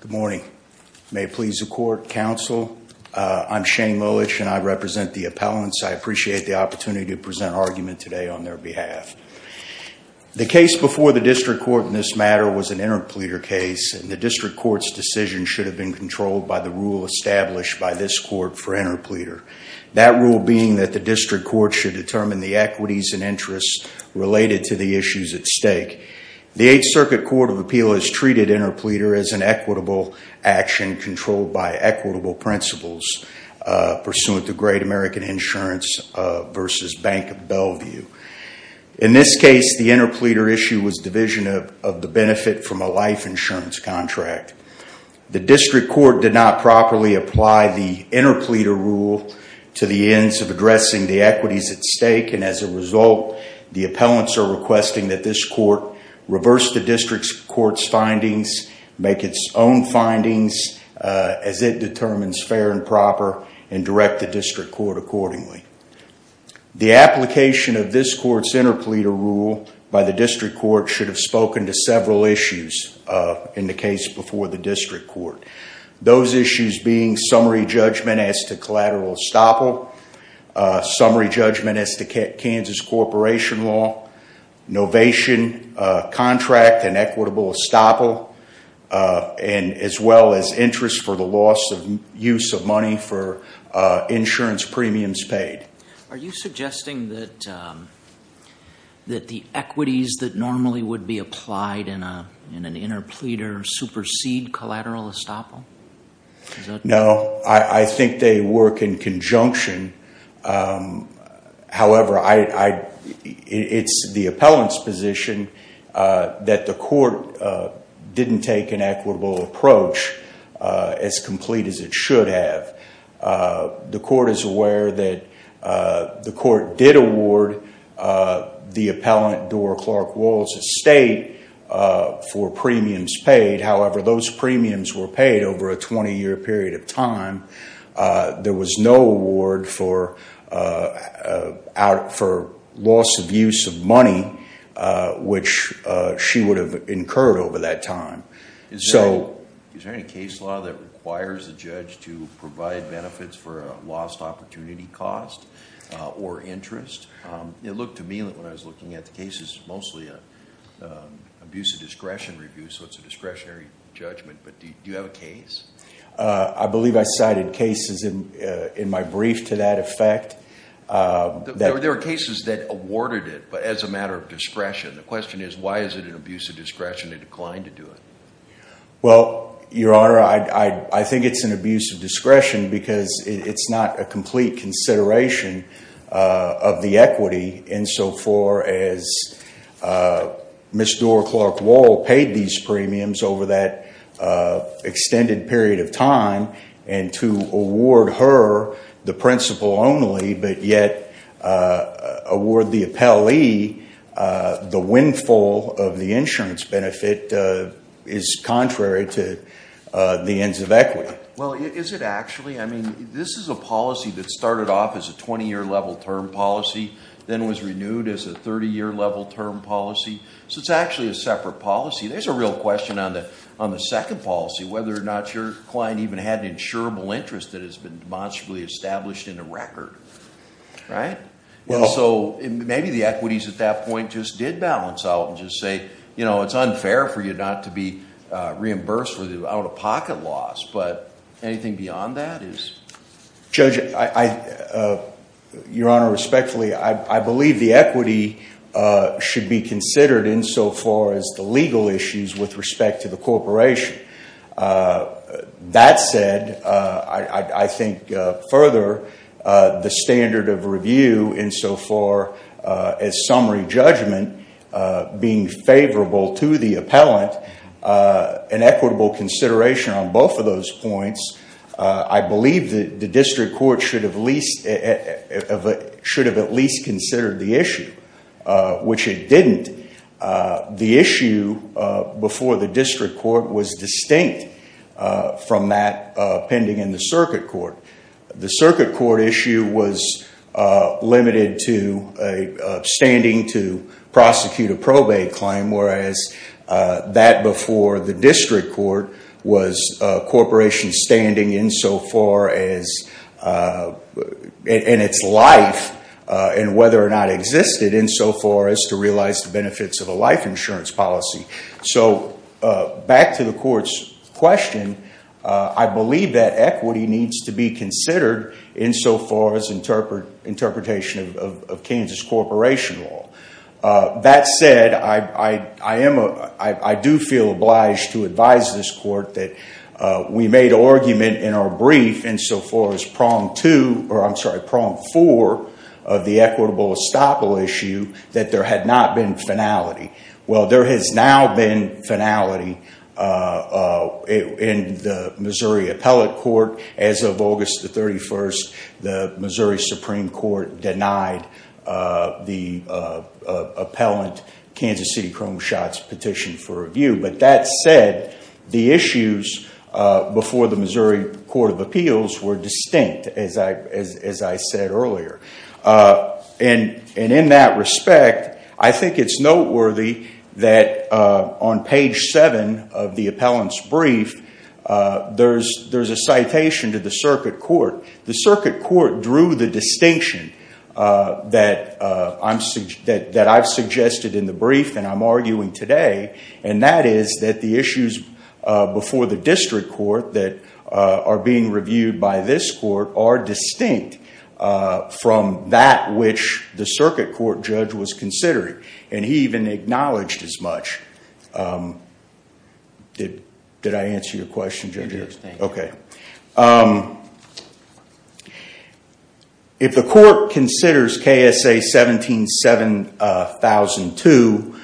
Good morning. May it please the court, counsel, I'm Shane Lulich and I represent the appellants. I appreciate the opportunity to present argument today on their behalf. The case before the district court in this matter was an interpleader case, and the district court's decision should have been controlled by the rule established by this court for interpleader, that rule being that the district court should determine the equities and interests related to the issues at stake. The Eighth Circuit Court of Appeal has treated interpleader as an equitable action controlled by equitable principles pursuant to Great American Insurance v. Bank of Bellevue. In this case, the interpleader issue was division of the benefit from a life insurance contract. The district court did not properly apply the interpleader rule to the ends of addressing the equities at stake, and as a result, the appellants are requesting that this court reverse the district court's findings, make its own findings as it determines fair and proper, and direct the district court accordingly. The application of this court's interpleader rule by the district court should have spoken to several issues in the case before the district court. Those issues being summary judgment as to collateral estoppel, summary judgment as to Kansas corporation law, novation contract and equitable estoppel, and as well as interest for the loss of use of money for insurance premiums paid. Are you suggesting that the equities that normally would be applied in an interpleader supersede collateral estoppel? No, I think they work in conjunction. However, it's the appellant's position that the court didn't take an equitable approach as complete as it should have. The court is aware that the court did award the appellant Dora Clark Walls' estate for premiums paid. However, those premiums were paid over a 20-year period of time. There was no award for loss of use of money, which she would have incurred over that time. Is there any case law that requires the judge to provide benefits for a lost opportunity cost or interest? It looked to me like when I was looking at the cases, mostly an abuse of discretion review, so it's a discretionary judgment. But do you have a case? I believe I cited cases in my brief to that effect. There were cases that awarded it, but as a matter of discretion. The question is, why is it an abuse of discretion to decline to do it? Well, Your Honor, I think it's an abuse of discretion because it's not a complete consideration of the equity insofar as Ms. Dora Clark Wall paid these premiums over that extended period of time. And to award her the principal only, but yet award the appellee the windfall of the insurance benefit is contrary to the ends of equity. Well, is it actually? I mean, this is a policy that started off as a 20-year level term policy, then was renewed as a 30-year level term policy. So it's actually a separate policy. There's a real question on the second policy, whether or not your client even had an insurable interest that has been demonstrably established in the record, right? And so maybe the equities at that point just did balance out and just say, you know, it's unfair for you not to be reimbursed for the out-of-pocket loss. But anything beyond that is? Judge, Your Honor, respectfully, I believe the equity should be considered insofar as the legal issues with respect to the corporation. That said, I think further, the standard of review insofar as summary judgment being favorable to the appellant, an equitable consideration on both of those points. I believe that the district court should have at least considered the issue, which it didn't. The issue before the district court was distinct from that pending in the circuit court. The circuit court issue was limited to a standing to prosecute a probate claim, whereas that before the district court was a corporation standing insofar as in its life, and whether or not existed insofar as to realize the benefits of a life insurance policy. So back to the court's question, I believe that equity needs to be considered insofar as interpretation of Kansas corporation law. That said, I do feel obliged to advise this court that we made argument in our brief insofar as prong two, or I'm sorry, prong four of the equitable estoppel issue that there had not been finality. Well, there has now been finality in the Missouri appellate court. As of August the 31st, the Missouri Supreme Court denied the appellant Kansas City Chrome Shots petition for review. But that said, the issues before the Missouri Court of Appeals were distinct, as I said earlier. And in that respect, I think it's noteworthy that on page seven of the appellant's brief, there's a citation to the circuit court. The circuit court drew the distinction that I've suggested in the brief and I'm arguing today, and that is that the issues before the district court that are being reviewed by this court are distinct from that which the circuit court judge was considering. And he even acknowledged as much. Did I answer your question, Judge? Yes, thank you. Okay. If the court considers KSA 17-7002,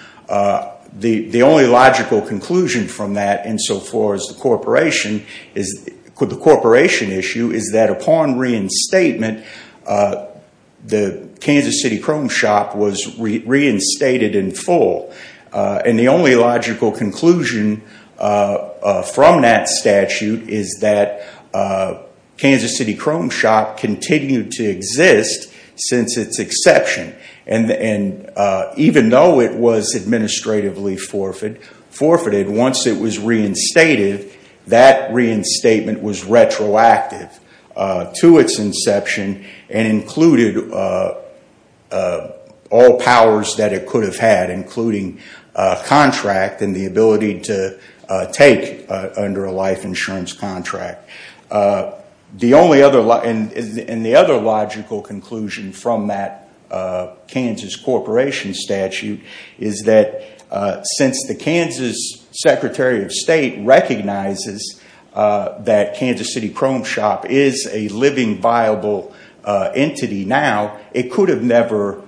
the only logical conclusion from that insofar as the corporation issue is that upon reinstatement, the Kansas City Chrome Shop was reinstated in full. And the only logical conclusion from that statute is that Kansas City Chrome Shop continued to exist since its exception. And even though it was administratively forfeited, once it was reinstated, that reinstatement was retroactive to its inception and included all powers that it could have had, including contract and the ability to take under a life insurance contract. And the other logical conclusion from that Kansas Corporation statute is that since the Kansas Secretary of State recognizes that Kansas City Chrome Shop is a living, viable entity now, it could have never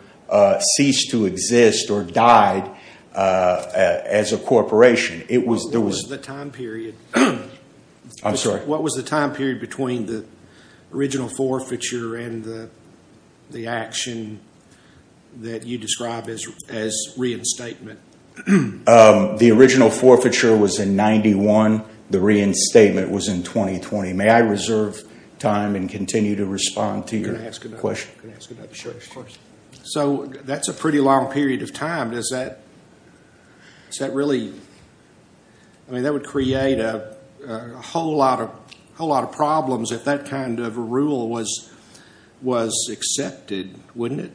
ceased to exist or died as a corporation. What was the time period between the original forfeiture and the action that you describe as reinstatement? The original forfeiture was in 1991. The reinstatement was in 2020. May I reserve time and continue to respond to your question? Can I ask another question? Sure, of course. So that's a pretty long period of time. Does that really – I mean, that would create a whole lot of problems if that kind of a rule was accepted, wouldn't it?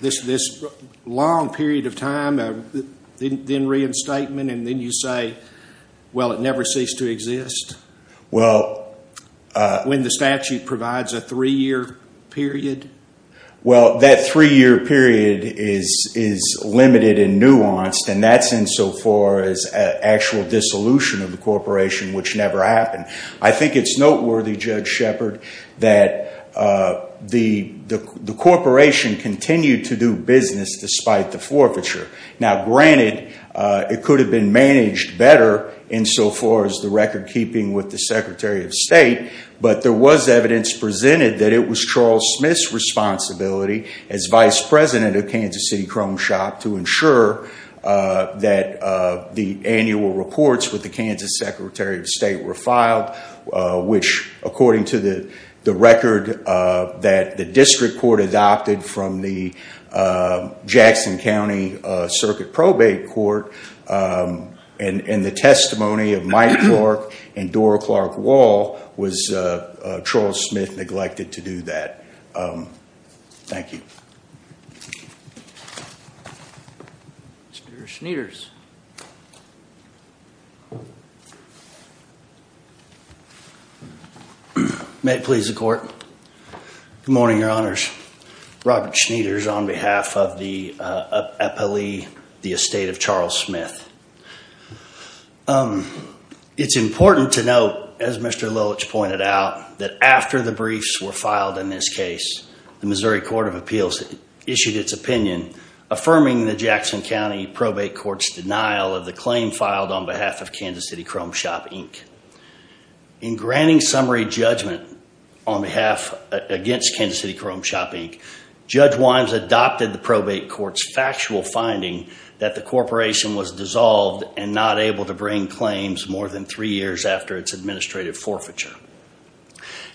This long period of time, then reinstatement, and then you say, well, it never ceased to exist? Well – When the statute provides a three-year period? Well, that three-year period is limited and nuanced, and that's insofar as actual dissolution of the corporation, which never happened. I think it's noteworthy, Judge Shepard, that the corporation continued to do business despite the forfeiture. Now, granted, it could have been managed better insofar as the record-keeping with the Secretary of State, but there was evidence presented that it was Charles Smith's responsibility as Vice President of Kansas City Chrome Shop to ensure that the annual reports with the Kansas Secretary of State were filed, which according to the record that the district court adopted from the Jackson County Circuit Probate Court and the testimony of Mike Clark and Dora Clark Wall, was Charles Smith neglected to do that. Thank you. Mr. Schneiders. May it please the Court. Good morning, Your Honors. Robert Schneiders on behalf of the epilee, the estate of Charles Smith. It's important to note, as Mr. Lilich pointed out, that after the briefs were filed in this case, the Missouri Court of Appeals issued its opinion affirming the Jackson County Probate Court's denial of the claim filed on behalf of Kansas City Chrome Shop, Inc. In granting summary judgment on behalf against Kansas City Chrome Shop, Inc., Judge Wimes adopted the probate court's factual finding that the corporation was dissolved and not able to bring claims more than three years after its administrative forfeiture.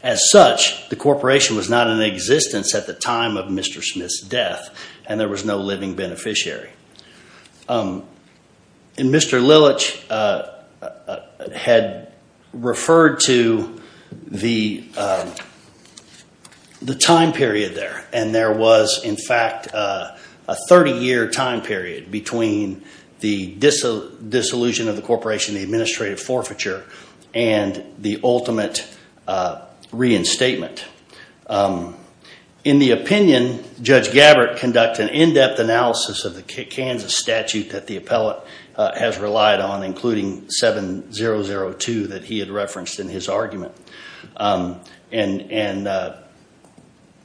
As such, the corporation was not in existence at the time of Mr. Smith's death, and there was no living beneficiary. Mr. Lilich had referred to the time period there, and there was, in fact, a 30-year time period between the dissolution of the corporation, the administrative forfeiture, and the ultimate reinstatement. In the opinion, Judge Gabbert conducted an in-depth analysis of the Kansas statute that the appellate has relied on, including 7002 that he had referenced in his argument. And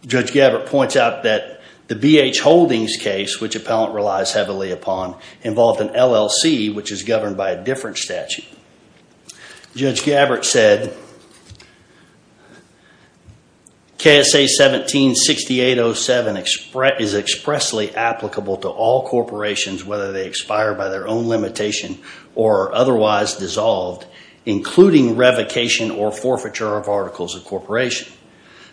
Judge Gabbert points out that the B.H. Holdings case, which appellant relies heavily upon, involved an LLC, which is governed by a different statute. Judge Gabbert said, KSA 176807 is expressly applicable to all corporations, whether they expire by their own limitation or are otherwise dissolved, including revocation or forfeiture of articles of corporation.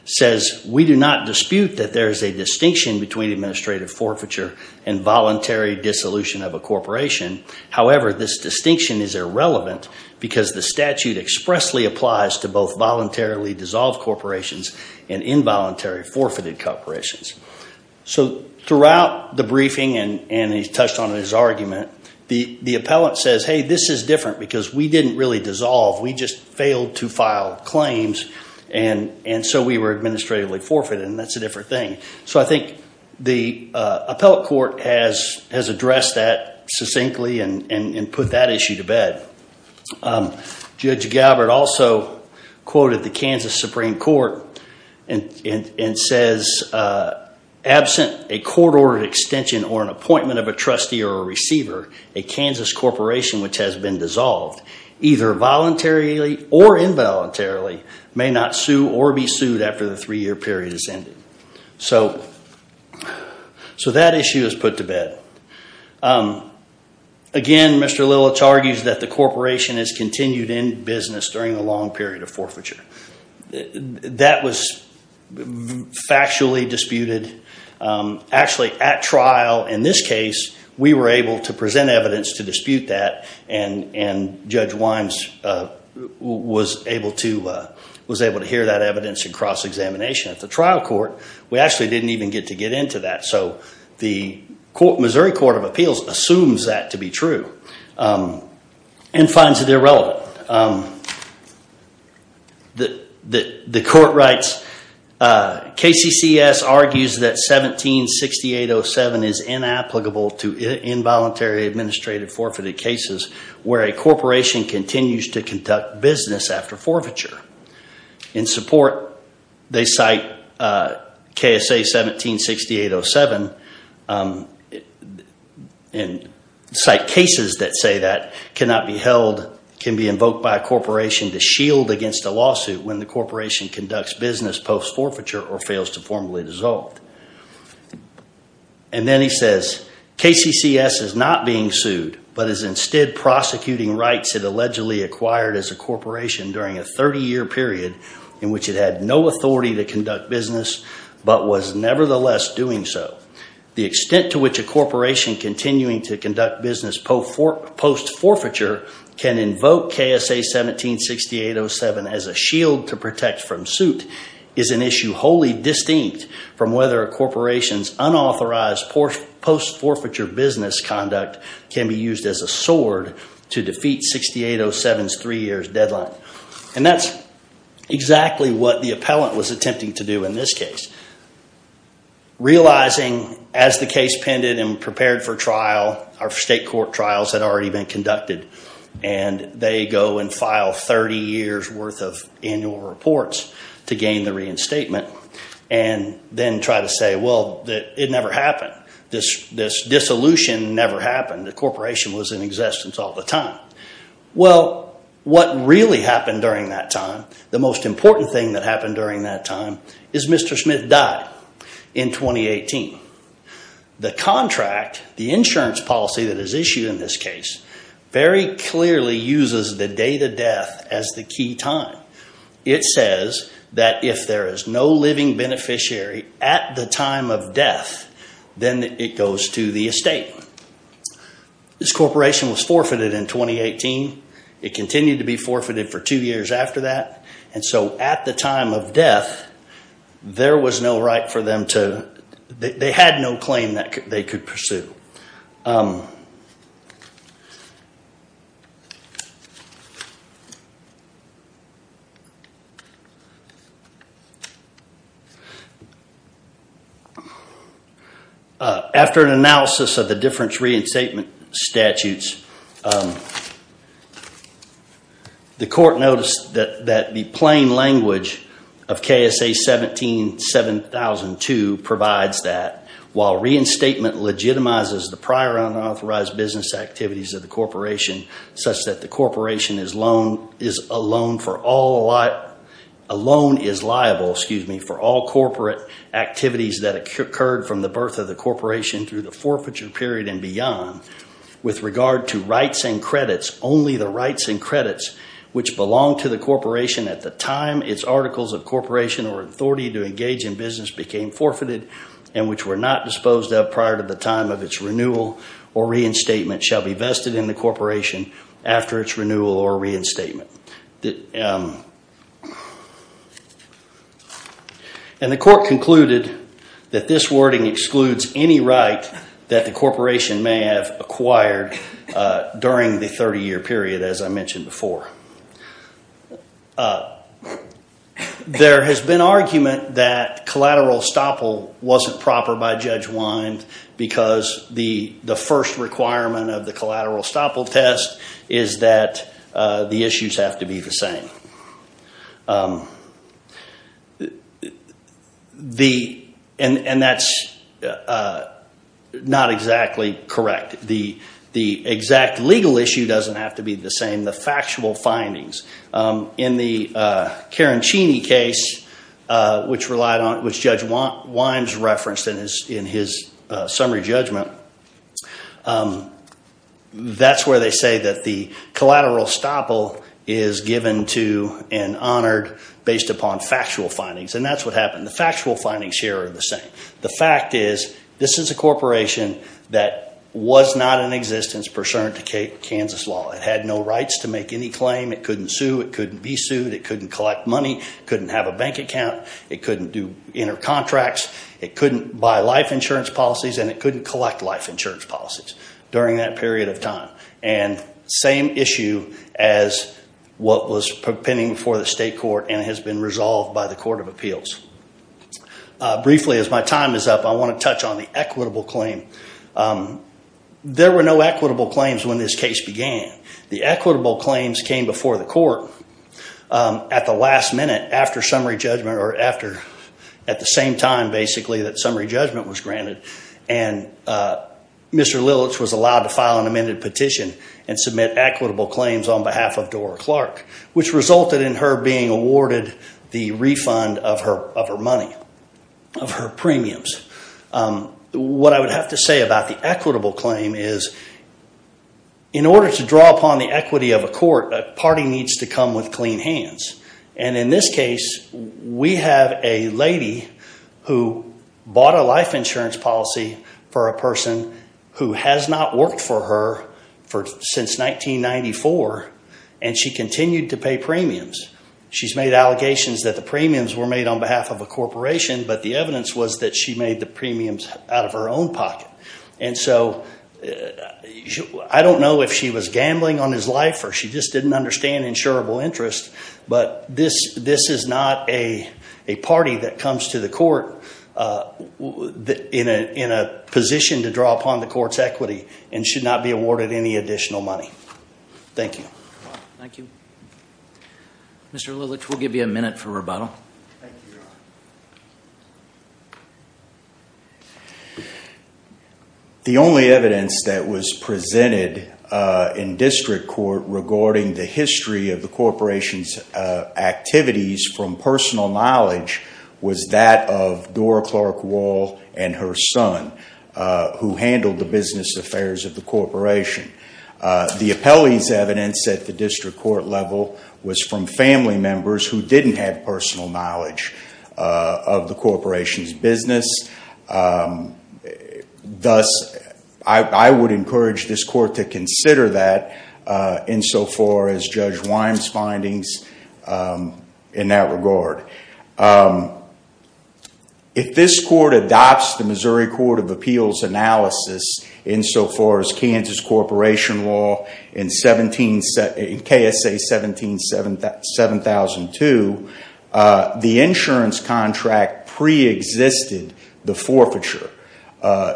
Says, we do not dispute that there is a distinction between administrative forfeiture and voluntary dissolution of a corporation. However, this distinction is irrelevant because the statute expressly applies to both voluntarily dissolved corporations and involuntary forfeited corporations. So throughout the briefing, and he touched on it in his argument, the appellant says, hey, this is different because we didn't really dissolve. We just failed to file claims, and so we were administratively forfeited, and that's a different thing. So I think the appellate court has addressed that succinctly and put that issue to bed. Judge Gabbert also quoted the Kansas Supreme Court and says, absent a court-ordered extension or an appointment of a trustee or a receiver, a Kansas corporation which has been dissolved, either voluntarily or involuntarily, may not sue or be sued after the three-year period has ended. So that issue is put to bed. Again, Mr. Lilich argues that the corporation has continued in business during a long period of forfeiture. That was factually disputed. Actually, at trial in this case, we were able to present evidence to dispute that, and Judge Wimes was able to hear that evidence in cross-examination at the trial court. We actually didn't even get to get into that, so the Missouri Court of Appeals assumes that to be true and finds it irrelevant. The court writes, KCCS argues that 176807 is inapplicable to involuntary, administrative forfeited cases where a corporation continues to conduct business after forfeiture. In support, they cite KSA 176807 and cite cases that say that cannot be held, can be invoked by a corporation to shield against a lawsuit when the corporation conducts business post-forfeiture or fails to formally dissolve. And then he says, KCCS is not being sued but is instead prosecuting rights it allegedly acquired as a corporation during a 30-year period in which it had no authority to conduct business but was nevertheless doing so. The extent to which a corporation continuing to conduct business post-forfeiture can invoke KSA 176807 as a shield to protect from suit is an issue wholly distinct from whether a corporation's unauthorized post-forfeiture business conduct can be used as a sword to defeat 6807's three-year deadline. And that's exactly what the appellant was attempting to do in this case, realizing as the case pended and prepared for trial, our state court trials had already been conducted, and they go and file 30 years' worth of annual reports to gain the reinstatement, and then try to say, well, it never happened. This dissolution never happened. The corporation was in existence all the time. Well, what really happened during that time, the most important thing that happened during that time, is Mr. Smith died in 2018. The contract, the insurance policy that is issued in this case, very clearly uses the date of death as the key time. It says that if there is no living beneficiary at the time of death, then it goes to the estate. This corporation was forfeited in 2018. It continued to be forfeited for two years after that. And so at the time of death, there was no right for them to, they had no claim that they could pursue. After an analysis of the difference reinstatement statutes, the court noticed that the plain language of KSA 17-7002 provides that, while reinstatement legitimizes the prior unauthorized business activities of the corporation, such that the corporation alone is liable for all corporate activities that occurred from the birth of the corporation through the forfeiture period and beyond. With regard to rights and credits, only the rights and credits which belonged to the corporation at the time, its articles of corporation or authority to engage in business became forfeited, and which were not disposed of prior to the time of its renewal or reinstatement, shall be vested in the corporation after its renewal or reinstatement. And the court concluded that this wording excludes any right that the corporation may have acquired during the 30-year period as I mentioned before. There has been argument that collateral estoppel wasn't proper by Judge Wynde because the first requirement of the collateral estoppel test is that the issues have to be the same. And that's not exactly correct. The exact legal issue doesn't have to be the same, the factual findings. In the Carancini case, which Judge Wynde referenced in his summary judgment, that's where they say that the collateral estoppel is given to and honored based upon factual findings. And that's what happened. The factual findings here are the same. The fact is this is a corporation that was not in existence pursuant to Kansas law. It had no rights to make any claim. It couldn't sue. It couldn't be sued. It couldn't collect money. It couldn't have a bank account. It couldn't do intercontracts. It couldn't buy life insurance policies and it couldn't collect life insurance policies during that period of time. And the same issue as what was pending before the state court and has been resolved by the Court of Appeals. Briefly, as my time is up, I want to touch on the equitable claim. There were no equitable claims when this case began. The equitable claims came before the court at the last minute after summary judgment at the same time, basically, that summary judgment was granted, and Mr. Lilich was allowed to file an amended petition and submit equitable claims on behalf of Dora Clark, which resulted in her being awarded the refund of her money, of her premiums. What I would have to say about the equitable claim is in order to draw upon the equity of a court, a party needs to come with clean hands. And in this case, we have a lady who bought a life insurance policy for a person who has not worked for her since 1994, and she continued to pay premiums. She's made allegations that the premiums were made on behalf of a corporation, but the evidence was that she made the premiums out of her own pocket. And so I don't know if she was gambling on his life or she just didn't understand insurable interest, but this is not a party that comes to the court in a position to draw upon the court's equity and should not be awarded any additional money. Thank you. Thank you. Mr. Lilich, we'll give you a minute for rebuttal. Thank you, Your Honor. The only evidence that was presented in district court regarding the history of the corporation's activities from personal knowledge was that of Dora Clark Wall and her son, who handled the business affairs of the corporation. The appellee's evidence at the district court level was from family members who didn't have personal knowledge of the corporation's business. Thus, I would encourage this court to consider that insofar as Judge Wyme's findings in that regard. If this court adopts the Missouri Court of Appeals analysis insofar as Kansas Corporation law in KSA 17-7002, the insurance contract preexisted the forfeiture.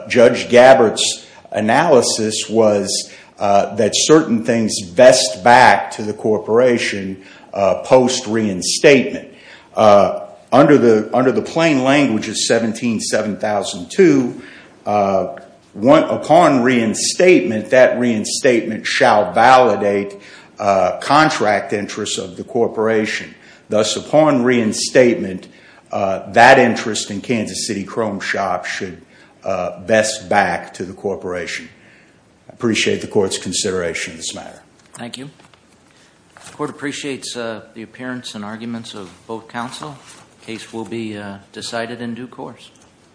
Judge Gabbard's analysis was that certain things vest back to the corporation post-reinstatement. Under the plain language of 17-7002, upon reinstatement, that reinstatement shall validate contract interests of the corporation. Thus, upon reinstatement, that interest in Kansas City Chrome Shop should vest back to the corporation. I appreciate the court's consideration of this matter. Thank you. The court appreciates the appearance and arguments of both counsel. The case will be decided in due course.